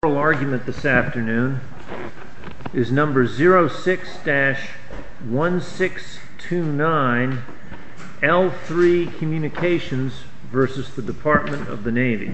The oral argument this afternoon is number 06-1629 L-3 Communications v. Department of the Navy.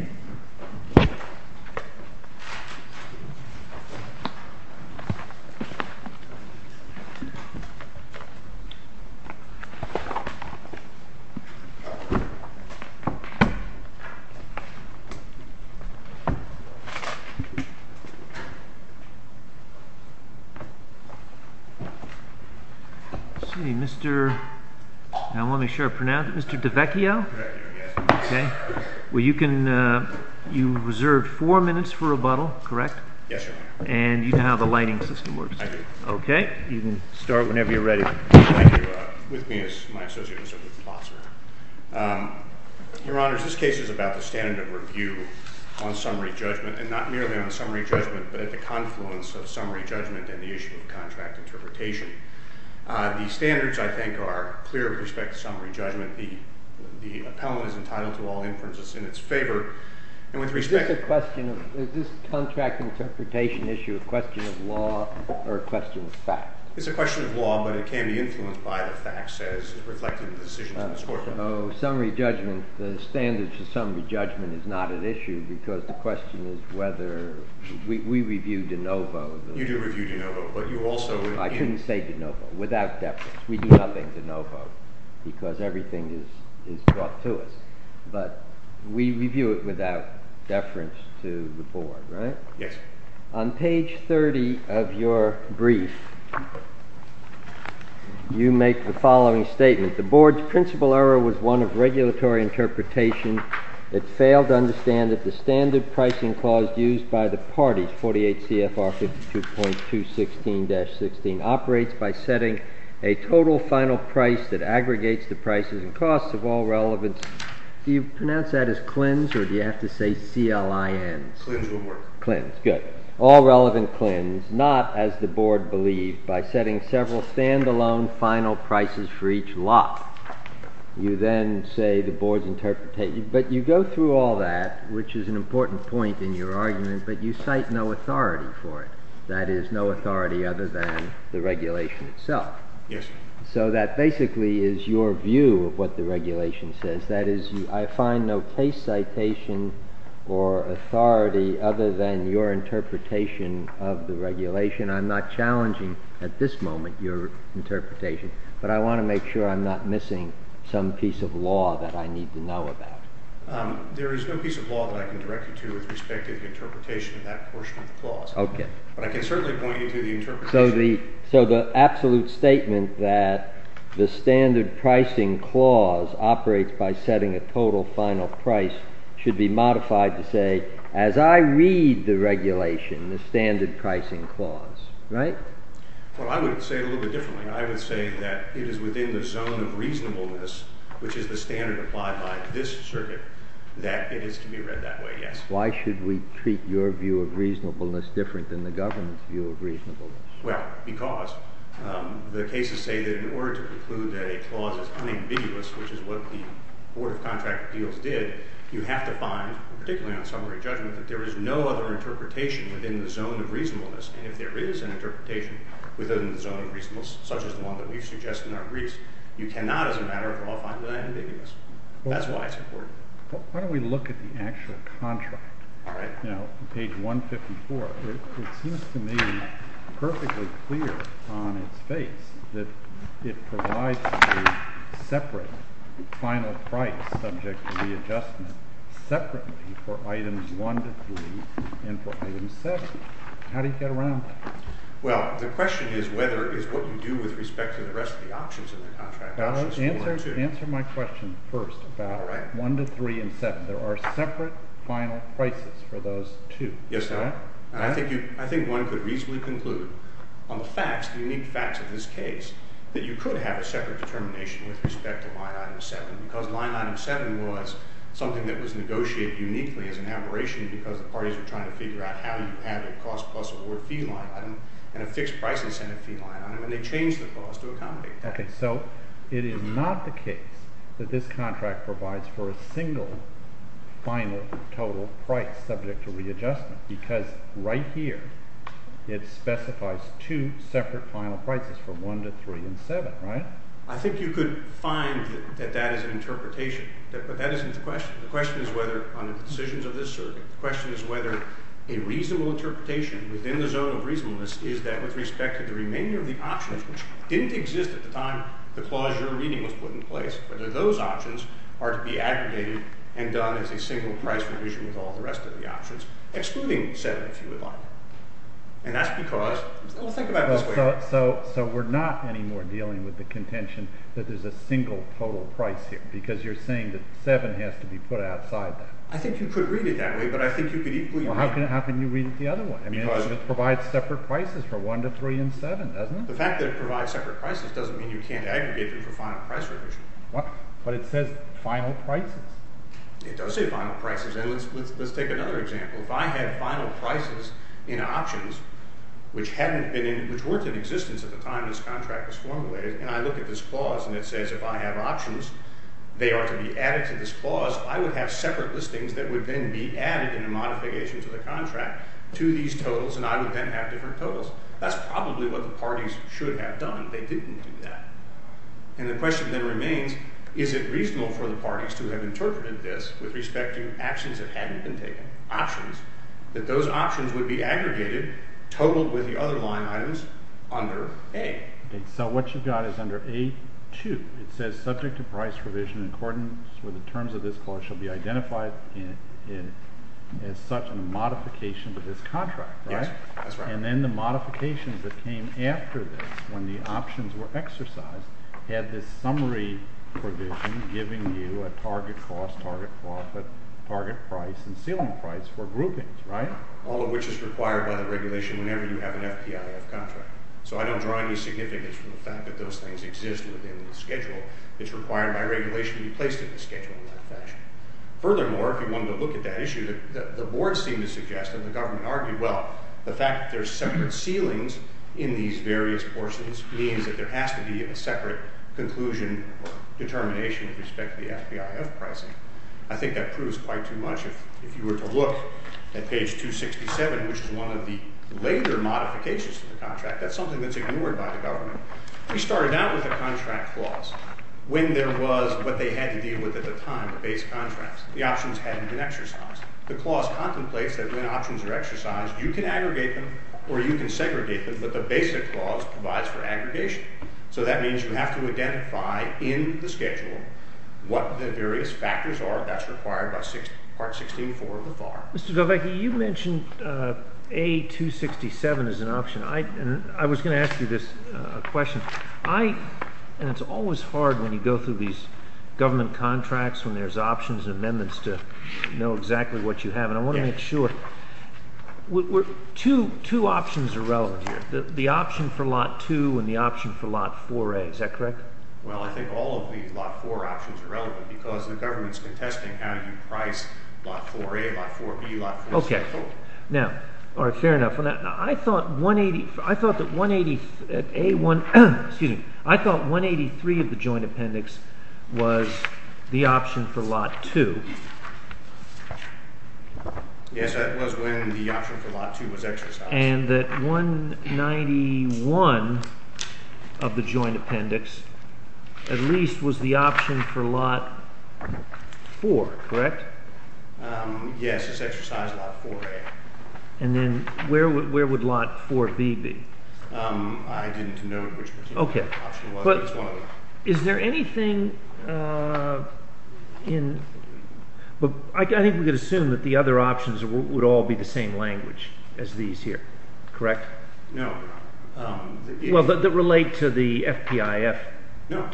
Mr. DeVecchio, you reserved four minutes for rebuttal, correct? Yes, Your Honor. And you know how the lighting system works? I do. Okay, you can start whenever you're ready. Thank you. With me is my associate, Mr. Lutzenbosser. Your Honor, this case is about the standard of review on summary judgment. And not merely on summary judgment, but at the confluence of summary judgment and the issue of contract interpretation. The standards, I think, are clear with respect to summary judgment. The appellant is entitled to all inferences in its favor. Is this contract interpretation issue a question of law or a question of fact? It's a question of law, but it can be influenced by the facts as reflected in the decisions in this courtroom. Summary judgment, the standards of summary judgment is not an issue because the question is whether we review de novo. You do review de novo, but you also review- I shouldn't say de novo. Without deference. We do nothing de novo because everything is brought to us. But we review it without deference to the board, right? Yes. On page 30 of your brief, you make the following statement. The board's principal error was one of regulatory interpretation. It failed to understand that the standard pricing clause used by the parties, 48 CFR 52.216-16, operates by setting a total final price that aggregates the prices and costs of all relevance. Do you pronounce that as CLINs or do you have to say CLINs? CLINs will work. CLINs, good. All relevant CLINs, not as the board believed, by setting several stand-alone final prices for each lot. You then say the board's interpretation, but you go through all that, which is an important point in your argument, but you cite no authority for it. That is, no authority other than the regulation itself. Yes. So that basically is your view of what the regulation says. That is, I find no case citation or authority other than your interpretation of the regulation. I'm not challenging at this moment your interpretation, but I want to make sure I'm not missing some piece of law that I need to know about. There is no piece of law that I can direct you to with respect to the interpretation of that portion of the clause. Okay. But I can certainly point you to the interpretation. So the absolute statement that the standard pricing clause operates by setting a total final price should be modified to say, as I read the regulation, the standard pricing clause, right? Well, I would say it a little bit differently. I would say that it is within the zone of reasonableness, which is the standard applied by this circuit, that it is to be read that way, yes. Why should we treat your view of reasonableness different than the government's view of reasonableness? Well, because the cases say that in order to conclude that a clause is unambiguous, which is what the Board of Contract Appeals did, you have to find, particularly on summary judgment, that there is no other interpretation within the zone of reasonableness. And if there is an interpretation within the zone of reasonableness, such as the one that we've suggested in our briefs, you cannot, as a matter of law, find that ambiguous. That's why it's important. Why don't we look at the actual contract, page 154. It seems to me perfectly clear on its face that it provides a separate final price subject to readjustment separately for items 1 to 3 and for item 6. How do you get around that? Well, the question is whether it is what you do with respect to the rest of the options in the contract, options 4 and 2. Answer my question first about 1 to 3 and 7. There are separate final prices for those two. Yes, sir. And I think one could reasonably conclude on the facts, the unique facts of this case, that you could have a separate determination with respect to line item 7, because line item 7 was something that was negotiated uniquely as an aberration because the parties were trying to figure out how you have a cost-plus-award fee line item and a fixed-price incentive fee line item, and they changed the clause to accommodate that. Okay. So it is not the case that this contract provides for a single final total price subject to readjustment because right here it specifies two separate final prices for 1 to 3 and 7, right? I think you could find that that is an interpretation, but that isn't the question. The question is whether on the decisions of this circuit, the question is whether a reasonable interpretation within the zone of reasonableness is that with respect to the remainder of the options, which didn't exist at the time the clause you're reading was put in place, whether those options are to be aggregated and done as a single price provision with all the rest of the options, excluding 7 if you would like. And that's because, well, think about it this way. So we're not anymore dealing with the contention that there's a single total price here because you're saying that 7 has to be put outside that. I think you could read it that way, but I think you could equally read it that way. Well, how can you read it the other way? Because it provides separate prices for 1 to 3 and 7, doesn't it? The fact that it provides separate prices doesn't mean you can't aggregate them for final price provision. But it says final prices. It does say final prices. And let's take another example. If I had final prices in options which weren't in existence at the time this contract was formulated and I look at this clause and it says if I have options, they are to be added to this clause, I would have separate listings that would then be added in a modification to the contract to these totals and I would then have different totals. That's probably what the parties should have done. They didn't do that. And the question then remains, is it reasonable for the parties to have interpreted this with respect to actions that hadn't been taken, options, that those options would be aggregated, totaled with the other line items under A? So what you've got is under A2. It says subject to price provision in accordance with the terms of this clause which will be identified as such in a modification to this contract, right? Yes, that's right. And then the modifications that came after this when the options were exercised had this summary provision giving you a target cost, target profit, target price, and ceiling price for groupings, right? All of which is required by the regulation whenever you have an FPIF contract. So I don't draw any significance from the fact that those things exist within the schedule. It's required by regulation to be placed in the schedule in that fashion. Furthermore, if you wanted to look at that issue, the board seemed to suggest and the government argued, well, the fact that there are separate ceilings in these various portions means that there has to be a separate conclusion or determination with respect to the FPIF pricing. I think that proves quite too much. If you were to look at page 267, which is one of the later modifications to the contract, that's something that's ignored by the government. We started out with a contract clause when there was what they had to deal with at the time, the base contracts. The options hadn't been exercised. The clause contemplates that when options are exercised, you can aggregate them or you can segregate them, but the basic clause provides for aggregation. So that means you have to identify in the schedule what the various factors are. That's required by Part 16.4 of the FAR. Mr. Del Vecchi, you mentioned A267 as an option. I was going to ask you this question. It's always hard when you go through these government contracts when there's options and amendments to know exactly what you have, and I want to make sure two options are relevant here, the option for lot 2 and the option for lot 4A. Is that correct? Well, I think all of the lot 4 options are relevant because the government's contesting how you price lot 4A, lot 4B, lot 4C. Fair enough. I thought 183 of the joint appendix was the option for lot 2. Yes, that was when the option for lot 2 was exercised. And that 191 of the joint appendix at least was the option for lot 4, correct? Yes, it's exercised lot 4A. And then where would lot 4B be? I didn't know which option was, but it's one of them. Is there anything in – I think we could assume that the other options would all be the same language as these here, correct? No, no. Well, that relate to the FPIF type? No,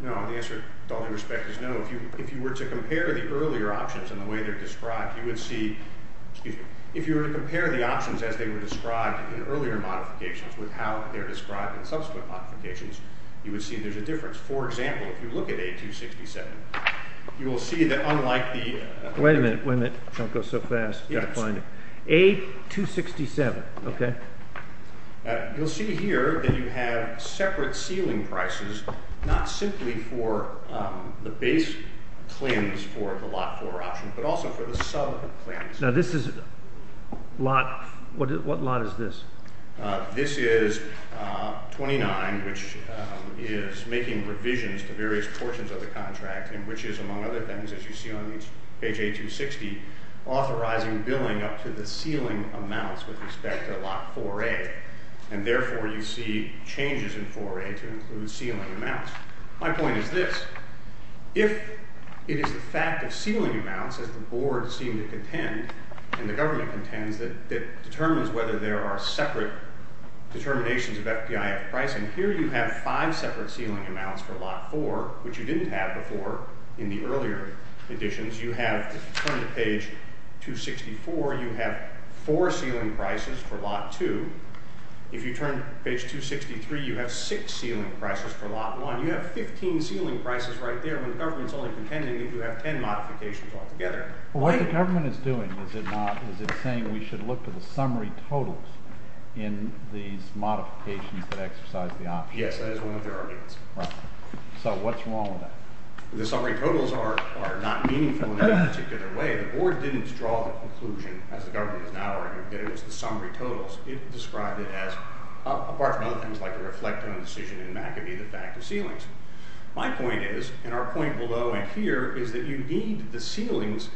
no. The answer, with all due respect, is no. If you were to compare the earlier options and the way they're described, you would see – excuse me. If you were to compare the options as they were described in earlier modifications with how they're described in subsequent modifications, you would see there's a difference. For example, if you look at A267, you will see that unlike the – Wait a minute, wait a minute. Don't go so fast. I've got to find it. A267, okay. You'll see here that you have separate ceiling prices, not simply for the base claims for the lot 4 option, but also for the sub claims. Now, this is a lot – what lot is this? This is 29, which is making revisions to various portions of the contract, and which is, among other things, as you see on page A260, authorizing billing up to the ceiling amounts with respect to lot 4A, and therefore you see changes in 4A to include ceiling amounts. My point is this. If it is the fact of ceiling amounts, as the board seemed to contend, and the government contends, that determines whether there are separate determinations of FPIF pricing, here you have five separate ceiling amounts for lot 4, which you didn't have before in the earlier additions. If you turn to page 264, you have four ceiling prices for lot 2. If you turn to page 263, you have six ceiling prices for lot 1. You have 15 ceiling prices right there when the government is only contending if you have ten modifications altogether. What the government is doing, is it saying we should look to the summary totals in these modifications that exercise the option? Yes, that is one of their arguments. So what's wrong with that? The summary totals are not meaningful in any particular way. The board didn't draw the conclusion, as the government is now arguing, that it was the summary totals. It described it as, apart from other things like a reflect on decision, and that could be the fact of ceilings. My point is, and our point below and here, is that you need the ceilings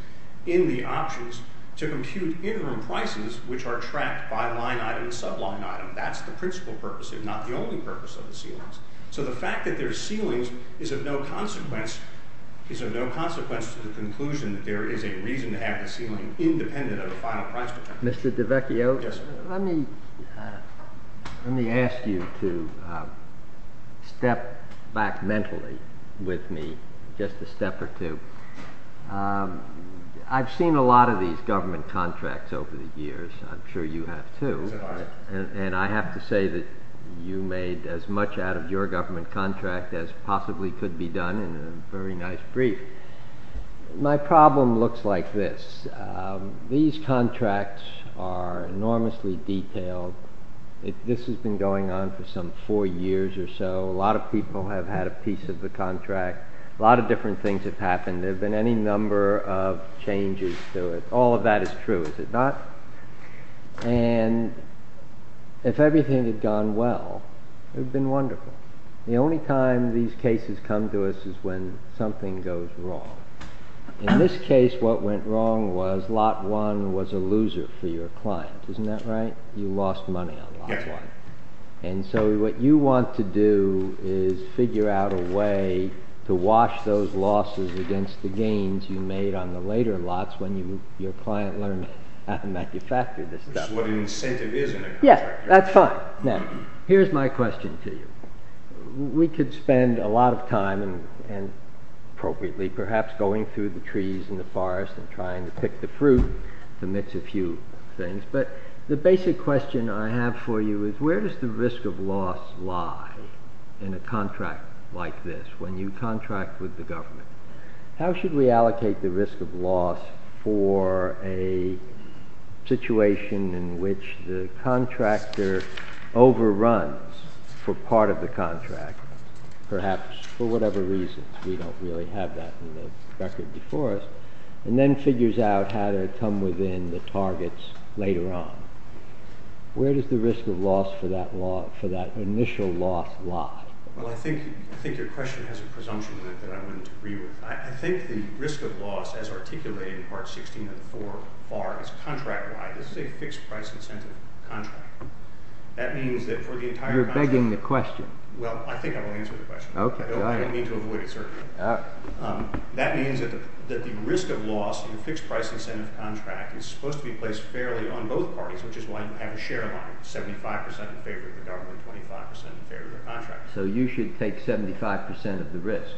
in the options to compute interim prices which are tracked by line item and subline item. That's the principal purpose, if not the only purpose of the ceilings. So the fact that there are ceilings is of no consequence to the conclusion that there is a reason to have the ceiling independent of the final price. Mr. DiVecchio, let me ask you to step back mentally with me just a step or two. I've seen a lot of these government contracts over the years. I'm sure you have too. I have to say that you made as much out of your government contract as possibly could be done in a very nice brief. My problem looks like this. These contracts are enormously detailed. This has been going on for some four years or so. A lot of people have had a piece of the contract. A lot of different things have happened. There have been any number of changes to it. All of that is true, is it not? If everything had gone well, it would have been wonderful. The only time these cases come to us is when something goes wrong. In this case, what went wrong was Lot 1 was a loser for your client. Isn't that right? You lost money on Lot 1. So what you want to do is figure out a way to wash those losses against the gains you made on the later lots when your client learned how to manufacture this stuff. That's what an incentive is in a contract. Yes, that's fine. Now, here's my question to you. We could spend a lot of time, and appropriately, perhaps going through the trees in the forest and trying to pick the fruit amidst a few things, but the basic question I have for you is where does the risk of loss lie in a contract like this when you contract with the government? How should we allocate the risk of loss for a situation in which the contractor overruns for part of the contract, perhaps for whatever reason. We don't really have that in the record before us. And then figures out how to come within the targets later on. Where does the risk of loss for that initial loss lie? Well, I think your question has a presumption in it that I wouldn't agree with. I think the risk of loss, as articulated in Part 16 of the 4 FAR, is contract-wide. This is a fixed-price incentive contract. That means that for the entire contract. You're begging the question. Well, I think I will answer the question. I don't mean to avoid it, sir. That means that the risk of loss in a fixed-price incentive contract is supposed to be placed fairly on both parties, which is why you have a share line, 75% in favor of the government, 25% in favor of the contract. So you should take 75% of the risk.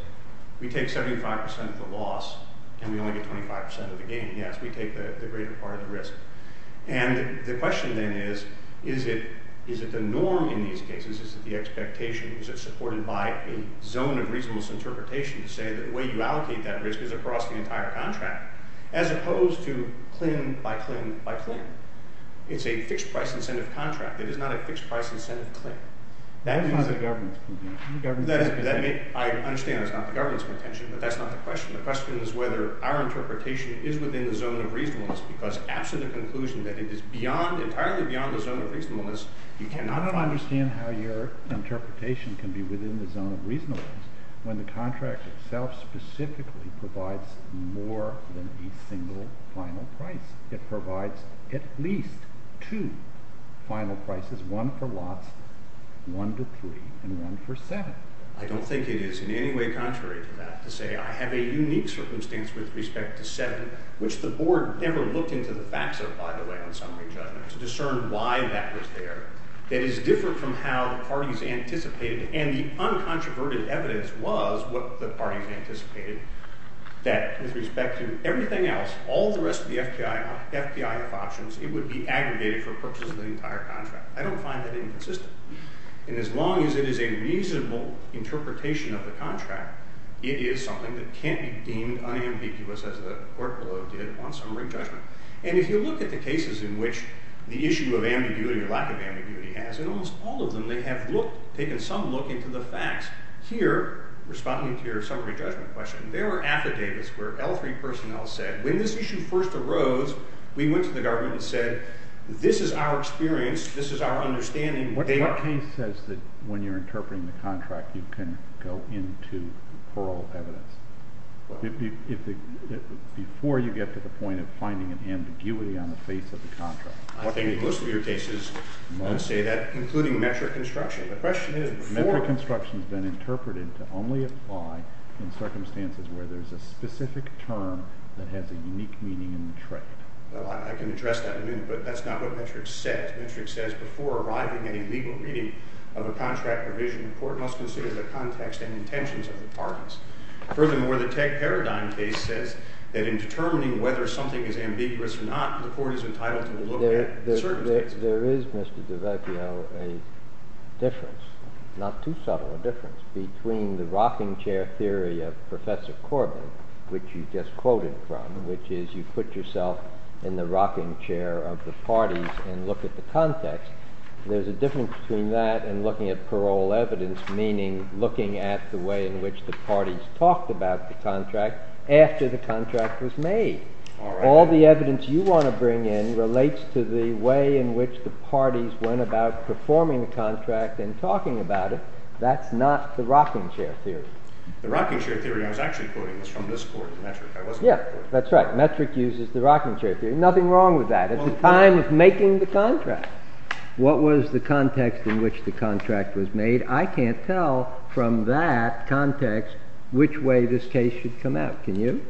We take 75% of the loss, and we only get 25% of the gain. Yes, we take the greater part of the risk. And the question then is, is it the norm in these cases? Is it the expectation? Is it supported by a zone of reasonable interpretation to say that the way you allocate that risk is across the entire contract, as opposed to CLIN by CLIN by CLIN? It's a fixed-price incentive contract. It is not a fixed-price incentive CLIN. That is not the government's contention. I understand that's not the government's contention, but that's not the question. The question is whether our interpretation is within the zone of reasonableness, because absent a conclusion that it is beyond, entirely beyond the zone of reasonableness, you cannot find it. I don't understand how your interpretation can be within the zone of reasonableness when the contract itself specifically provides more than a single final price. It provides at least two final prices, one for lots, one to three, and one for seven. I don't think it is in any way contrary to that to say I have a unique circumstance with respect to seven, which the board never looked into the facts of, by the way, on summary judgment, to discern why that was there. It is different from how the parties anticipated. And the uncontroverted evidence was what the parties anticipated, that with respect to everything else, all the rest of the FPI options, it would be aggregated for purposes of the entire contract. I don't find that inconsistent. And as long as it is a reasonable interpretation of the contract, it is something that can't be deemed unambiguous as the court below did on summary judgment. And if you look at the cases in which the issue of ambiguity or lack of ambiguity has, in almost all of them they have taken some look into the facts. Here, responding to your summary judgment question, there are affidavits where L3 personnel said, when this issue first arose, we went to the government and said, this is our experience. This is our understanding. What case says that when you're interpreting the contract, you can go into plural evidence before you get to the point of finding an ambiguity on the face of the contract? I think most of your cases say that, including metric construction. The question is before. Metric construction has been interpreted to only apply in circumstances where there's a specific term that has a unique meaning in the trade. Well, I can address that in a minute, but that's not what metric says. Metric says before arriving at a legal reading of a contract provision, the court must consider the context and intentions of the parties. Furthermore, the tech paradigm case says that in determining whether something is ambiguous or not, the court is entitled to look at certain things. There is, Mr. DiVacchio, a difference, not too subtle a difference, between the rocking chair theory of Professor Corbin, which you just quoted from, which is you put yourself in the rocking chair of the parties and look at the context. There's a difference between that and looking at parole evidence, meaning looking at the way in which the parties talked about the contract after the contract was made. All the evidence you want to bring in relates to the way in which the parties went about performing the contract and talking about it. That's not the rocking chair theory. The rocking chair theory, I was actually quoting this from this court, the metric. Yeah, that's right. Metric uses the rocking chair theory. Nothing wrong with that. It's the time of making the contract. What was the context in which the contract was made? I can't tell from that context which way this case should come out. Can you?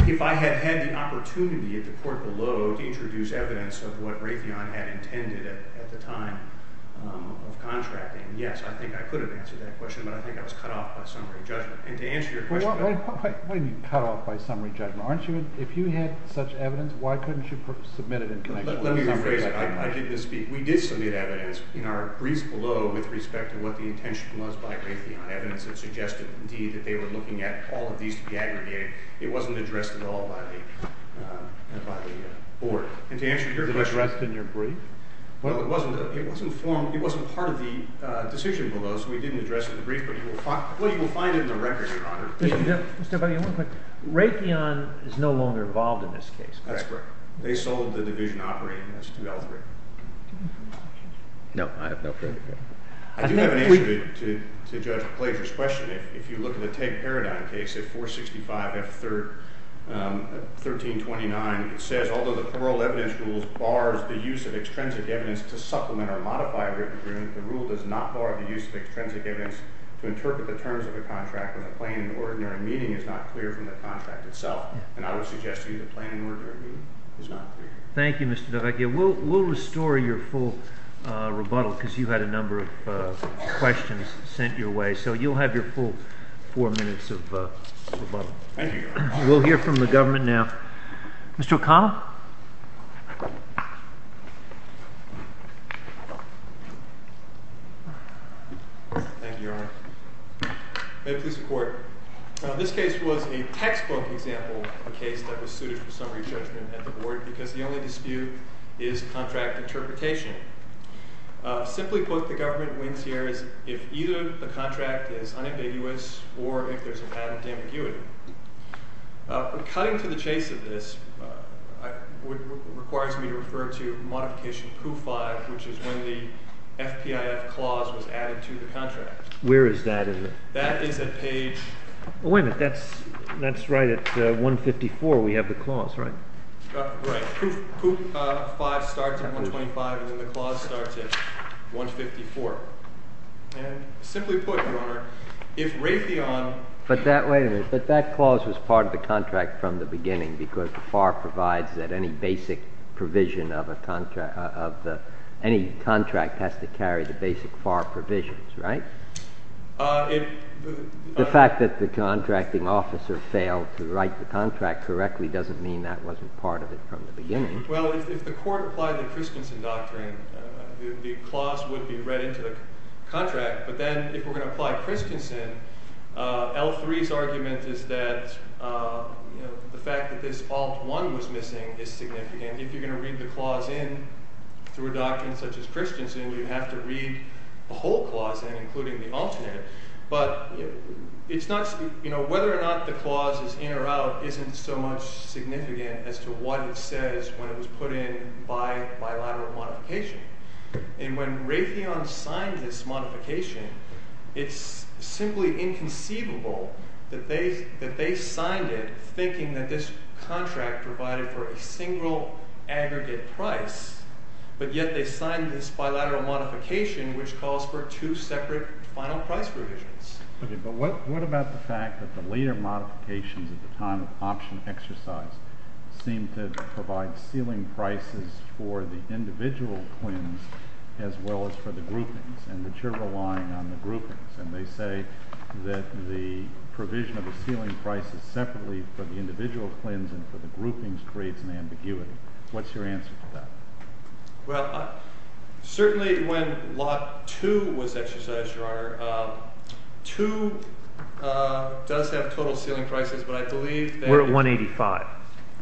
If I had had the opportunity at the court below to introduce evidence of what Raytheon had intended at the time of contracting, yes, I think I could have answered that question. But I think I was cut off by summary judgment. And to answer your question about that. What do you mean, cut off by summary judgment? If you had such evidence, why couldn't you submit it in connection with summary judgment? Let me rephrase it. I didn't speak. We did submit evidence in our briefs below with respect to what the intention was by Raytheon. Evidence that suggested, indeed, that they were looking at all of these to be aggregated. It wasn't addressed at all by the board. And to answer your question. It wasn't addressed in your brief? Well, it wasn't part of the decision below. So we didn't address it in the brief. But you will find it in the record, Your Honor. Mr. Budge, one quick. Raytheon is no longer involved in this case. That's correct. They sold the division operating as 2L3. No, I have no further questions. I do have an answer to Judge Plager's question. If you look at the Teg Paradigm case at 465 F1329, it says, although the parole evidence rules bars the use of extrinsic evidence to supplement or modify a written agreement, the rule does not bar the use of extrinsic evidence to interpret the terms of a contract when the plain and ordinary meaning is not clear from the contract itself. And I would suggest to you the plain and ordinary meaning is not clear. Thank you, Mr. DeVecchia. We'll restore your full rebuttal, because you had a number of questions sent your way. So you'll have your full four minutes of rebuttal. Thank you, Your Honor. We'll hear from the government now. Mr. O'Connell. Thank you, Your Honor. May it please the court. This case was a textbook example of a case that was suited for summary judgment at the board, because the only dispute is contract interpretation. Simply put, the government wins here if either the contract is unambiguous or if there's an added ambiguity. Cutting to the chase of this requires me to refer to modification poof 5, which is when the FPIF clause was added to the contract. Where is that? That is at page. Wait a minute. That's right at 154. We have the clause, right? Right. Poof 5 starts at 125, and then the clause starts at 154. And simply put, Your Honor, if Raytheon. But wait a minute. But that clause was part of the contract from the beginning, because the FAR provides that any contract has to carry the basic FAR provisions, right? The fact that the contracting officer failed to write the contract correctly doesn't mean that wasn't part of it from the beginning. Well, if the court applied the Christensen doctrine, the clause would be read into the contract. But then if we're going to apply Christensen, L3's argument is that the fact that this alt 1 was missing is significant. If you're going to read the clause in through a doctrine such as Christensen, you have to read the whole clause in, including the alternate. But whether or not the clause is in or out isn't so much significant as to what it says when it was put in by bilateral modification. And when Raytheon signed this modification, it's simply inconceivable that they signed it thinking that this contract provided for a single aggregate price, but yet they signed this bilateral modification, which calls for two separate final price provisions. But what about the fact that the later modifications at the time of option exercise seem to provide ceiling prices for the individual twins as well as for the groupings, and that you're relying on the groupings? And they say that the provision of the ceiling prices separately for the individual twins and for the groupings creates an ambiguity. What's your answer to that? Well, certainly when Lot 2 was exercised, Your Honor, 2 does have total ceiling prices, but I believe that We're at 185.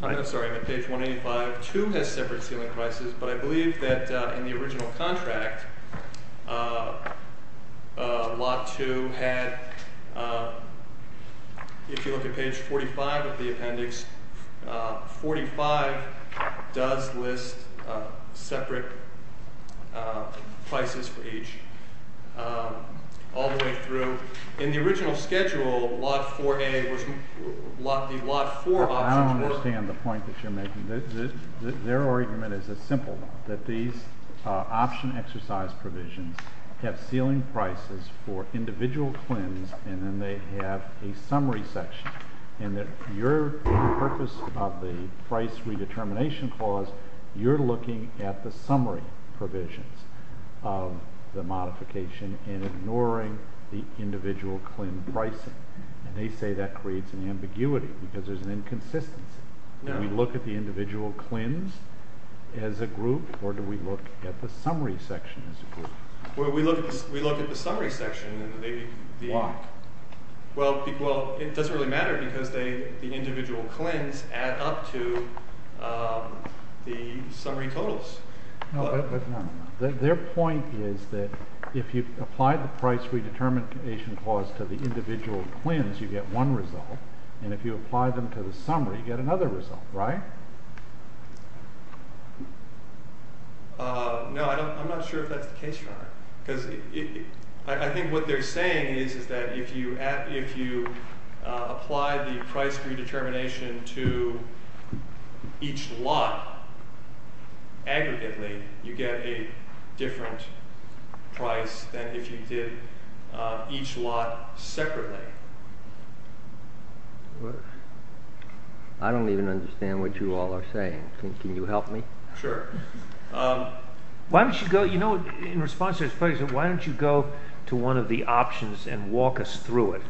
I'm sorry. I'm at page 185. 2 has separate ceiling prices, but I believe that in the original contract, Lot 2 had, if you look at page 45 of the appendix, 45 does list separate prices for each all the way through. In the original schedule, Lot 4A was the Lot 4 options were. I don't understand the point that you're making. Their argument is as simple, that these option exercise provisions have ceiling prices for individual twins, and then they have a summary section. And that your purpose of the price redetermination clause, you're looking at the summary provisions of the modification and ignoring the individual twin pricing. And they say that creates an ambiguity, because there's an inconsistency. Do we look at the individual twins as a group, or do we look at the summary section as a group? Well, we look at the summary section. Why? Well, it doesn't really matter, because the individual twins add up to the summary totals. No, but their point is that if you apply the price redetermination clause to the individual twins, you get one result. And if you apply them to the summary, you get another result, right? No, I'm not sure if that's the case. Because I think what they're saying is that if you apply the price redetermination to each lot aggregately, you get a different price than if you did each lot separately. I don't even understand what you all are saying. Can you help me? Sure. Why don't you go, you know, in response to his question, why don't you go to one of the options and walk us through it?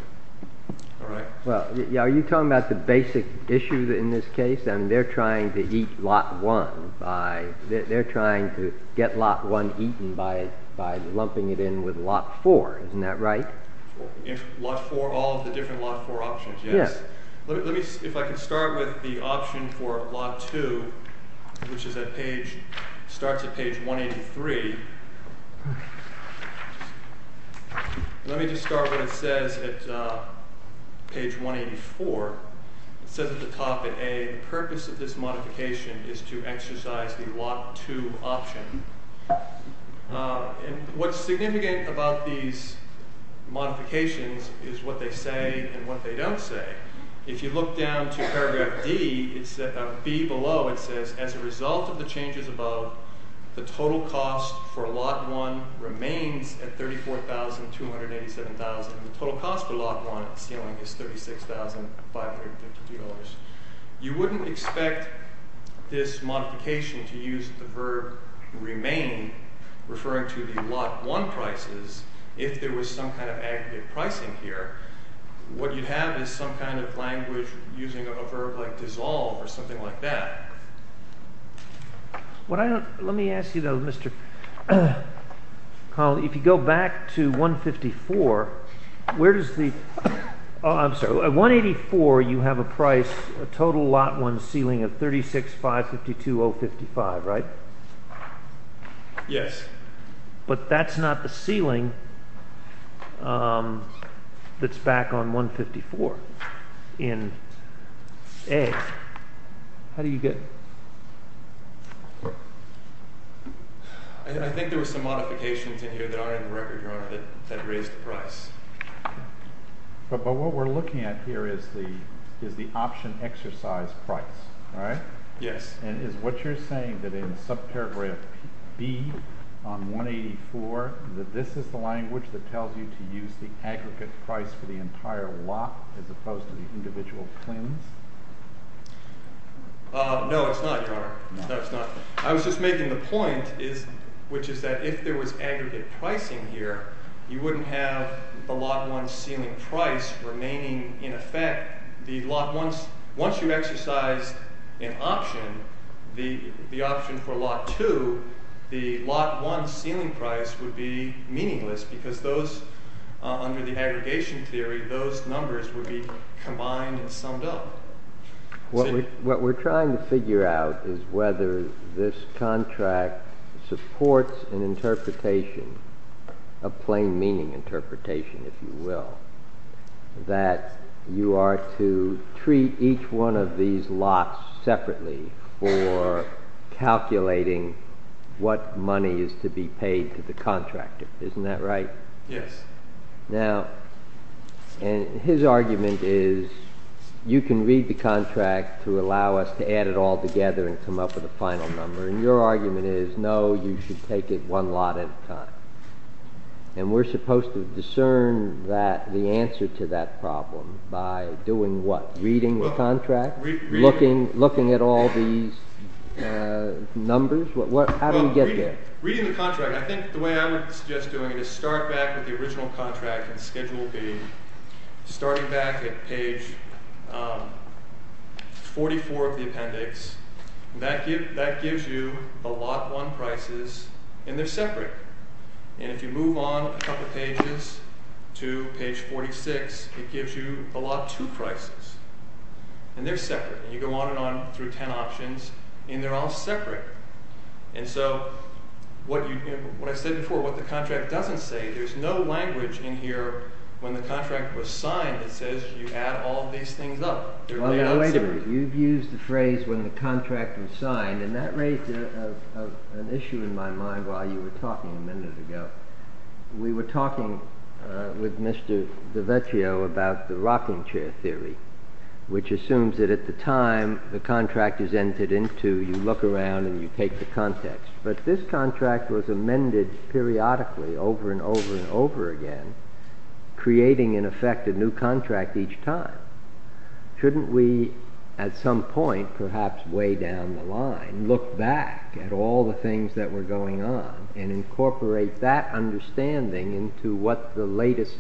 All right. Well, are you talking about the basic issue in this case? I mean, they're trying to eat lot one. They're trying to get lot one eaten by lumping it in with lot four. Isn't that right? Lot four, all of the different lot four options, yes. Let me see if I can start with the option for lot two, which starts at page 183. Let me just start what it says at page 184. It says at the top in A, the purpose of this modification is to exercise the lot two option. And what's significant about these modifications is what they say and what they don't say. If you look down to paragraph D, B below, it says, as a result of the changes above, the total cost for lot one remains at $34,287. The total cost for lot one at the ceiling is $36,552. You wouldn't expect this modification to use the verb remain, referring to the lot one prices, if there was some kind of aggregate pricing here. What you'd have is some kind of language using a verb like dissolve or something like that. Let me ask you, though, Mr. Connelly, if you go back to 154, where does the... I'm sorry, at 184, you have a price, a total lot one ceiling of $36,552.55, right? Yes. But that's not the ceiling. That's back on 154 in A. How do you get... I think there was some modifications in here that aren't in the record, Your Honor, that raised the price. But what we're looking at here is the option exercise price, right? Yes. And is what you're saying that in subparagraph B on 184, that this is the language that tells you to use the aggregate price for the entire lot as opposed to the individual claims? No, it's not, Your Honor. That's not. I was just making the point, which is that if there was aggregate pricing here, you wouldn't have the lot one ceiling price remaining in effect. Once you exercise an option, the option for lot two, the lot one ceiling price would be meaningless because those, under the aggregation theory, those numbers would be combined and summed up. What we're trying to figure out is whether this contract supports an interpretation, a plain meaning interpretation, if you will, that you are to treat each one of these lots separately for calculating what money is to be paid to the contractor. Isn't that right? Yes. Now, his argument is you can read the contract to allow us to add it all together and come up with a final number. And your argument is, no, you should take it one lot at a time. And we're supposed to discern the answer to that problem by doing what? Reading the contract? Looking at all these numbers? How do we get there? Reading the contract, I think the way I would suggest doing it is start back with the original contract and schedule B. Starting back at page 44 of the appendix, that gives you the lot one prices, and they're separate. And if you move on a couple pages to page 46, it gives you the lot two prices. And they're separate. And you go on and on through ten options, and they're all separate. And so, what I said before, what the contract doesn't say, there's no language in here when the contract was signed that says you add all these things up. By the way, you've used the phrase when the contract was signed, and that raised an issue in my mind while you were talking a minute ago. We were talking with Mr. DiVecchio about the rocking chair theory, which assumes that at the time the contract is entered into, you look around and you take the context. But this contract was amended periodically over and over and over again, creating, in effect, a new contract each time. Shouldn't we, at some point, perhaps way down the line, look back at all the things that were going on and incorporate that understanding into what the latest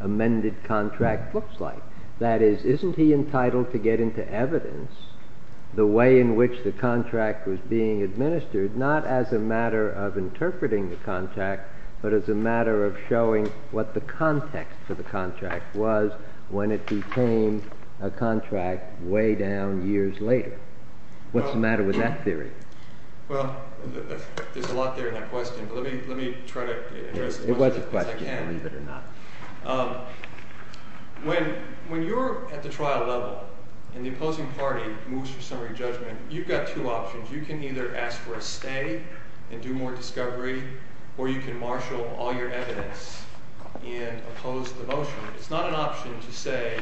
amended contract looks like? That is, isn't he entitled to get into evidence the way in which the contract was being administered, not as a matter of interpreting the contract, but as a matter of showing what the context of the contract was when it became a contract way down years later? What's the matter with that theory? Well, there's a lot there in that question, but let me try to address it. It was a question, believe it or not. When you're at the trial level and the opposing party moves for summary judgment, you've got two options. You can either ask for a stay and do more discovery, or you can marshal all your evidence and oppose the motion. It's not an option to say,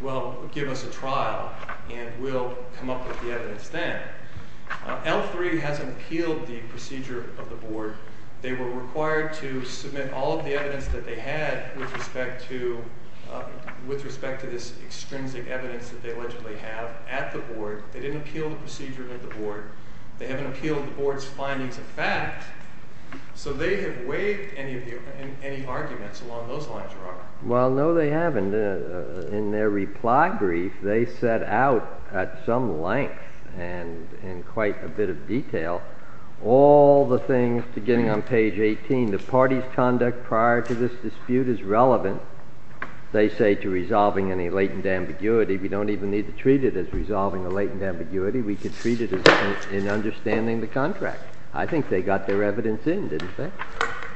well, give us a trial and we'll come up with the evidence then. L3 hasn't appealed the procedure of the board. They were required to submit all of the evidence that they had with respect to this extrinsic evidence that they allegedly have at the board. They didn't appeal the procedure at the board. They haven't appealed the board's findings of fact. So they have waived any arguments along those lines, Robert. Well, no, they haven't. And in their reply brief, they set out at some length and in quite a bit of detail all the things beginning on page 18. The party's conduct prior to this dispute is relevant, they say, to resolving any latent ambiguity. We don't even need to treat it as resolving a latent ambiguity. We can treat it as understanding the contract. I think they got their evidence in, didn't they?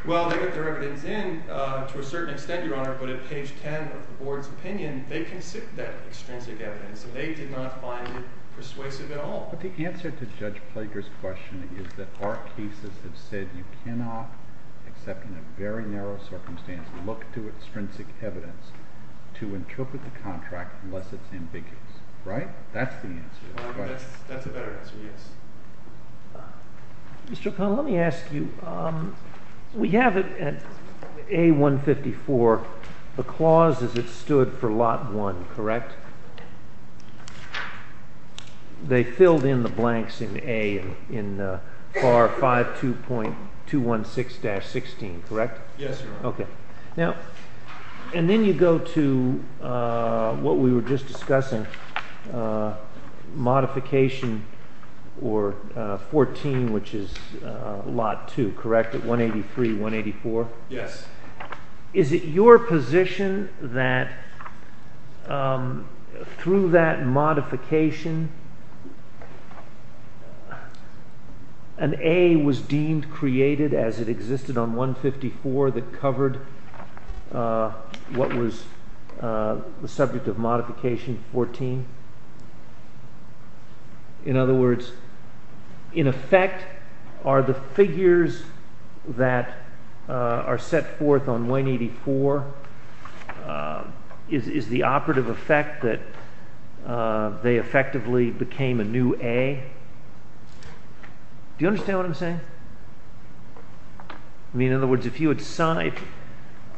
Well, they got their evidence in to a certain extent, Your Honor, but at page 10 of the board's opinion, they considered that extrinsic evidence, and they did not find it persuasive at all. But the answer to Judge Plager's question is that our cases have said you cannot, except in a very narrow circumstance, look to extrinsic evidence to interpret the contract unless it's ambiguous. Right? That's the answer. That's a better answer, yes. Mr. O'Connell, let me ask you. We have it at A154. The clause is it stood for Lot 1, correct? They filled in the blanks in A, in FAR 52.216-16, correct? Yes, Your Honor. Okay. And then you go to what we were just discussing, Modification 14, which is Lot 2, correct? At 183-184? Yes. Is it your position that through that modification, an A was deemed created as it existed on 154 that covered what was the subject of Modification 14? In other words, in effect, are the figures that are set forth on 184, is the operative effect that they effectively became a new A? Do you understand what I'm saying? I mean, in other words, if you had signed…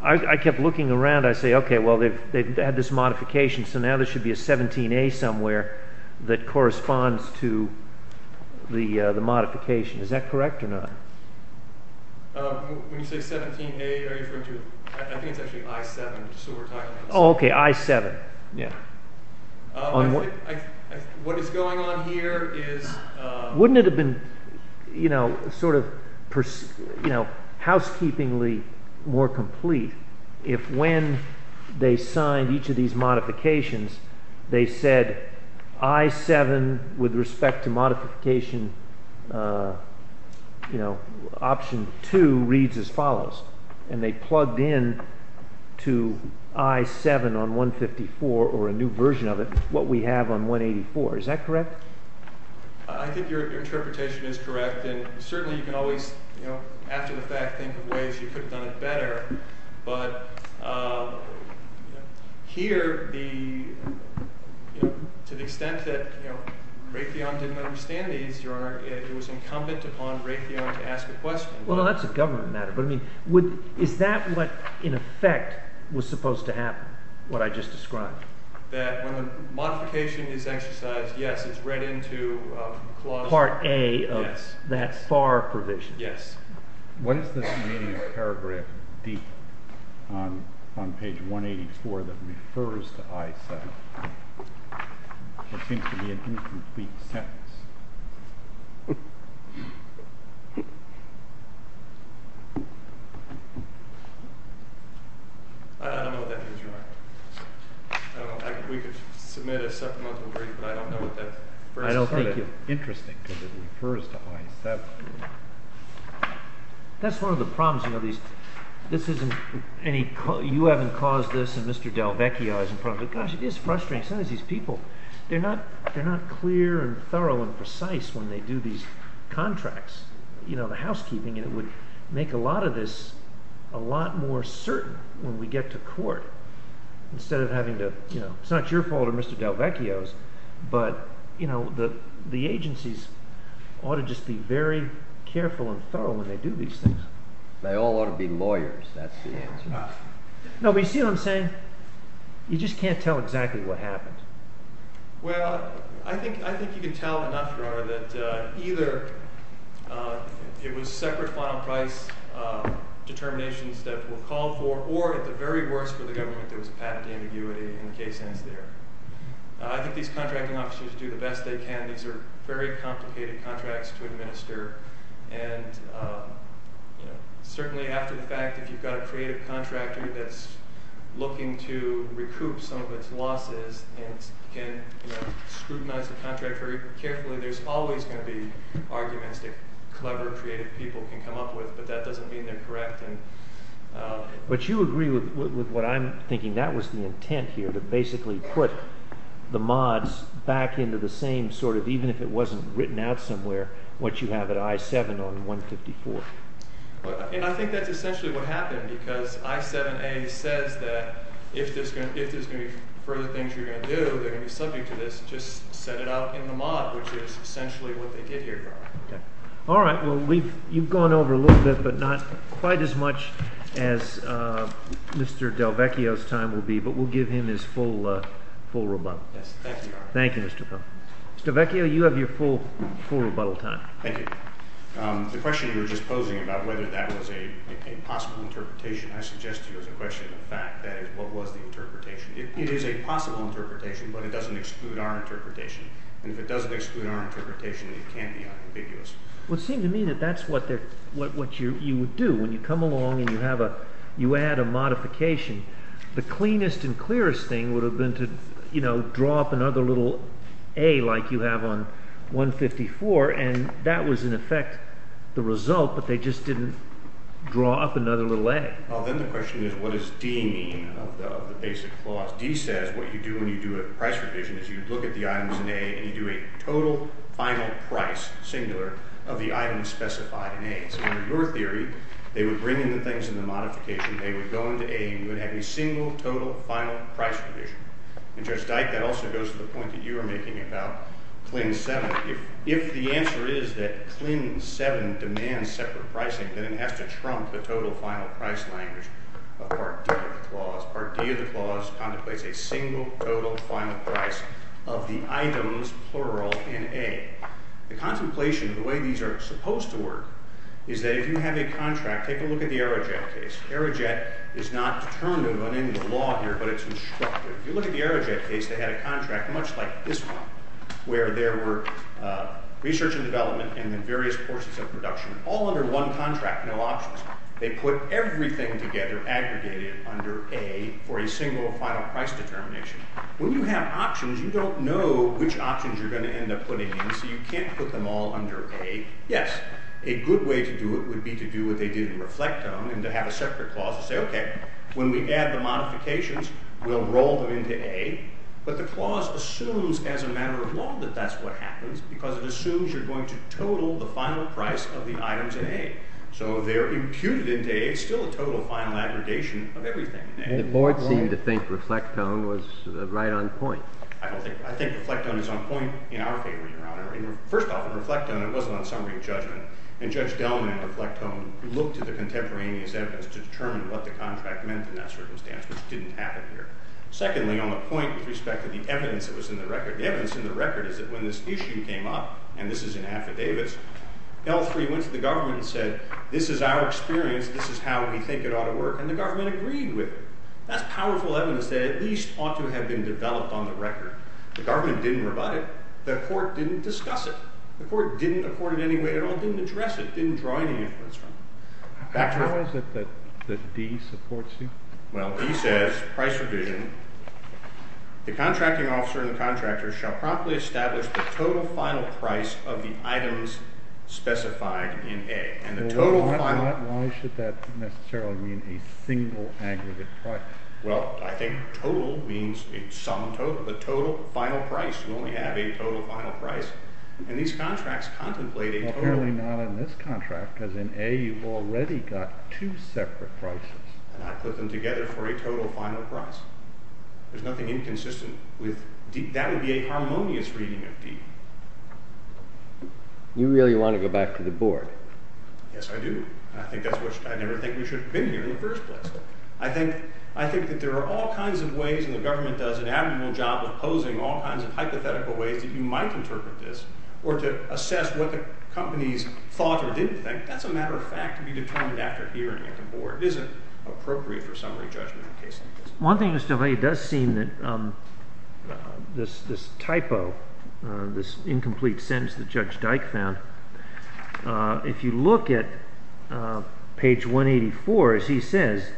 I kept looking around. I say, okay, well, they've had this modification, so now there should be a 17A somewhere that corresponds to the modification. Is that correct or not? When you say 17A, are you referring to… I think it's actually I-7, just what we're talking about. Oh, okay, I-7. Yes. What is going on here is… Wouldn't it have been sort of housekeepingly more complete if when they signed each of these modifications, they said I-7 with respect to Modification Option 2 reads as follows, and they plugged in to I-7 on 154 or a new version of it what we have on 184. Is that correct? I think your interpretation is correct, and certainly you can always, after the fact, think of ways you could have done it better. But here, to the extent that Raytheon didn't understand these, Your Honor, it was incumbent upon Raytheon to ask a question. Well, that's a government matter, but I mean, is that what in effect was supposed to happen, what I just described? That when the modification is exercised, yes, it's read into clause… Part A of that FAR provision. Yes. What is this paragraph on page 184 that refers to I-7? It seems to be an incomplete sentence. I don't know what that means, Your Honor. We could submit a supplemental brief, but I don't know what that first part is. I don't think it's interesting because it refers to I-7. That's one of the problems, you know, this isn't any – you haven't caused this and Mr. Delvecchio hasn't caused it. Gosh, it is frustrating. Some of these people, they're not clear and thorough and precise when they do these contracts, you know, the housekeeping, and it would make a lot of this a lot more certain when we get to court instead of having to – it's not your fault or Mr. Delvecchio's, but the agencies ought to just be very careful and thorough when they do these things. They all ought to be lawyers, that's the answer. No, but you see what I'm saying? You just can't tell exactly what happened. Well, I think you can tell enough, Your Honor, that either it was separate final price determinations that were called for or at the very worst for the government there was a patent ambiguity and the case ends there. I think these contracting officers do the best they can. These are very complicated contracts to administer, and certainly after the fact, if you've got a creative contractor that's looking to recoup some of its losses and can scrutinize the contract very carefully, there's always going to be arguments that clever, creative people can come up with, but that doesn't mean they're correct. But you agree with what I'm thinking. That was the intent here to basically put the mods back into the same sort of, even if it wasn't written out somewhere, what you have at I-7 on 154. And I think that's essentially what happened because I-7a says that if there's going to be further things you're going to do, they're going to be subject to this, just set it out in the mod, which is essentially what they did here, Your Honor. All right, well, you've gone over a little bit, but not quite as much as Mr. DelVecchio's time will be, but we'll give him his full rebuttal. Yes, thank you, Your Honor. Thank you, Mr. Foehn. Mr. DelVecchio, you have your full rebuttal time. Thank you. The question you were just posing about whether that was a possible interpretation, I suggest to you as a question of fact, that is, what was the interpretation? It is a possible interpretation, but it doesn't exclude our interpretation. And if it doesn't exclude our interpretation, it can't be unambiguous. Well, it seemed to me that that's what you would do. When you come along and you add a modification, the cleanest and clearest thing would have been to, you know, draw up another little A like you have on 154, and that was, in effect, the result, but they just didn't draw up another little A. Well, then the question is, what does D mean of the basic clause? D says what you do when you do a price revision is you look at the items in A and you do a total final price, singular, of the items specified in A. So under your theory, they would bring in the things in the modification, they would go into A, and you would have a single, total, final price revision. And, Judge Dike, that also goes to the point that you were making about CLIN 7. If the answer is that CLIN 7 demands separate pricing, then it has to trump the total final price language of Part D of the clause. Part D of the clause contemplates a single, total, final price of the items, plural, in A. The contemplation of the way these are supposed to work is that if you have a contract, take a look at the Aerojet case. Aerojet is not determined on any of the law here, but it's instructive. If you look at the Aerojet case, they had a contract much like this one, where there were research and development in the various courses of production, all under one contract, no options. They put everything together, aggregated, under A for a single, final price determination. When you have options, you don't know which options you're going to end up putting in, so you can't put them all under A. Yes, a good way to do it would be to do what they did in Reflectome and to have a separate clause to say, OK, when we add the modifications, we'll roll them into A. But the clause assumes, as a matter of law, that that's what happens, because it assumes you're going to total the final price of the items in A. So they're imputed into A. It's still a total, final aggregation of everything in A. The board seemed to think Reflectome was right on point. I think Reflectome is on point in our favor, Your Honor. First off, in Reflectome, it wasn't on summary of judgment. And Judge Delman of Reflectome looked at the contemporaneous evidence to determine what the contract meant in that circumstance, which didn't happen here. Secondly, on the point with respect to the evidence that was in the record, the evidence in the record is that when this issue came up, and this is in affidavits, L3 went to the government and said, this is our experience, this is how we think it ought to work, and the government agreed with it. That's powerful evidence that at least ought to have been developed on the record. The government didn't rebut it. The court didn't discuss it. The court didn't afford it in any way at all. It didn't address it. It didn't draw any inference from it. How is it that D supports you? Well, D says, price revision. The contracting officer and the contractor shall promptly establish the total final price of the items specified in A. And the total final... Why should that necessarily mean a single aggregate price? Well, I think total means a sum total. The total final price. You only have a total final price. And these contracts contemplate a total... Well, apparently not in this contract, because in A you've already got two separate prices. And I put them together for a total final price. There's nothing inconsistent with D. That would be a harmonious reading of D. You really want to go back to the board? Yes, I do. And I think that's why I never think we should have been here in the first place. I think that there are all kinds of ways, and the government does an admirable job of posing all kinds of hypothetical ways that you might interpret this or to assess what the companies thought or didn't think. That's a matter of fact to be determined after hearing at the board. It isn't appropriate for summary judgment in a case like this. One thing, Mr. Valle, it does seem that this typo, this incomplete sentence that Judge Dyke found, if you look at page 184, as he says,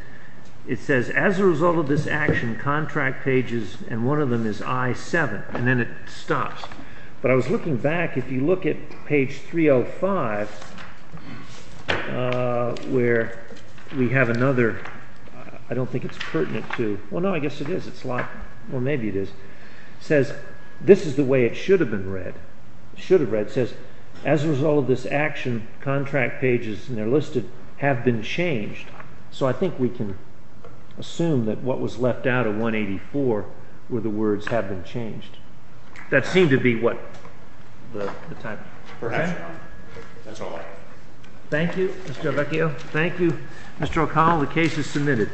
it says, as a result of this action, contract pages, and one of them is I-7, and then it stops. But I was looking back. If you look at page 305, where we have another, I don't think it's pertinent to, well, no, I guess it is. It's like, well, maybe it is. It says, this is the way it should have been read. It should have read, it says, as a result of this action, contract pages, and they're listed, have been changed. So I think we can assume that what was left out of 184 were the words have been changed. That seemed to be what the typo? Perhaps not. That's all. Thank you, Mr. Avecchio. The case is submitted.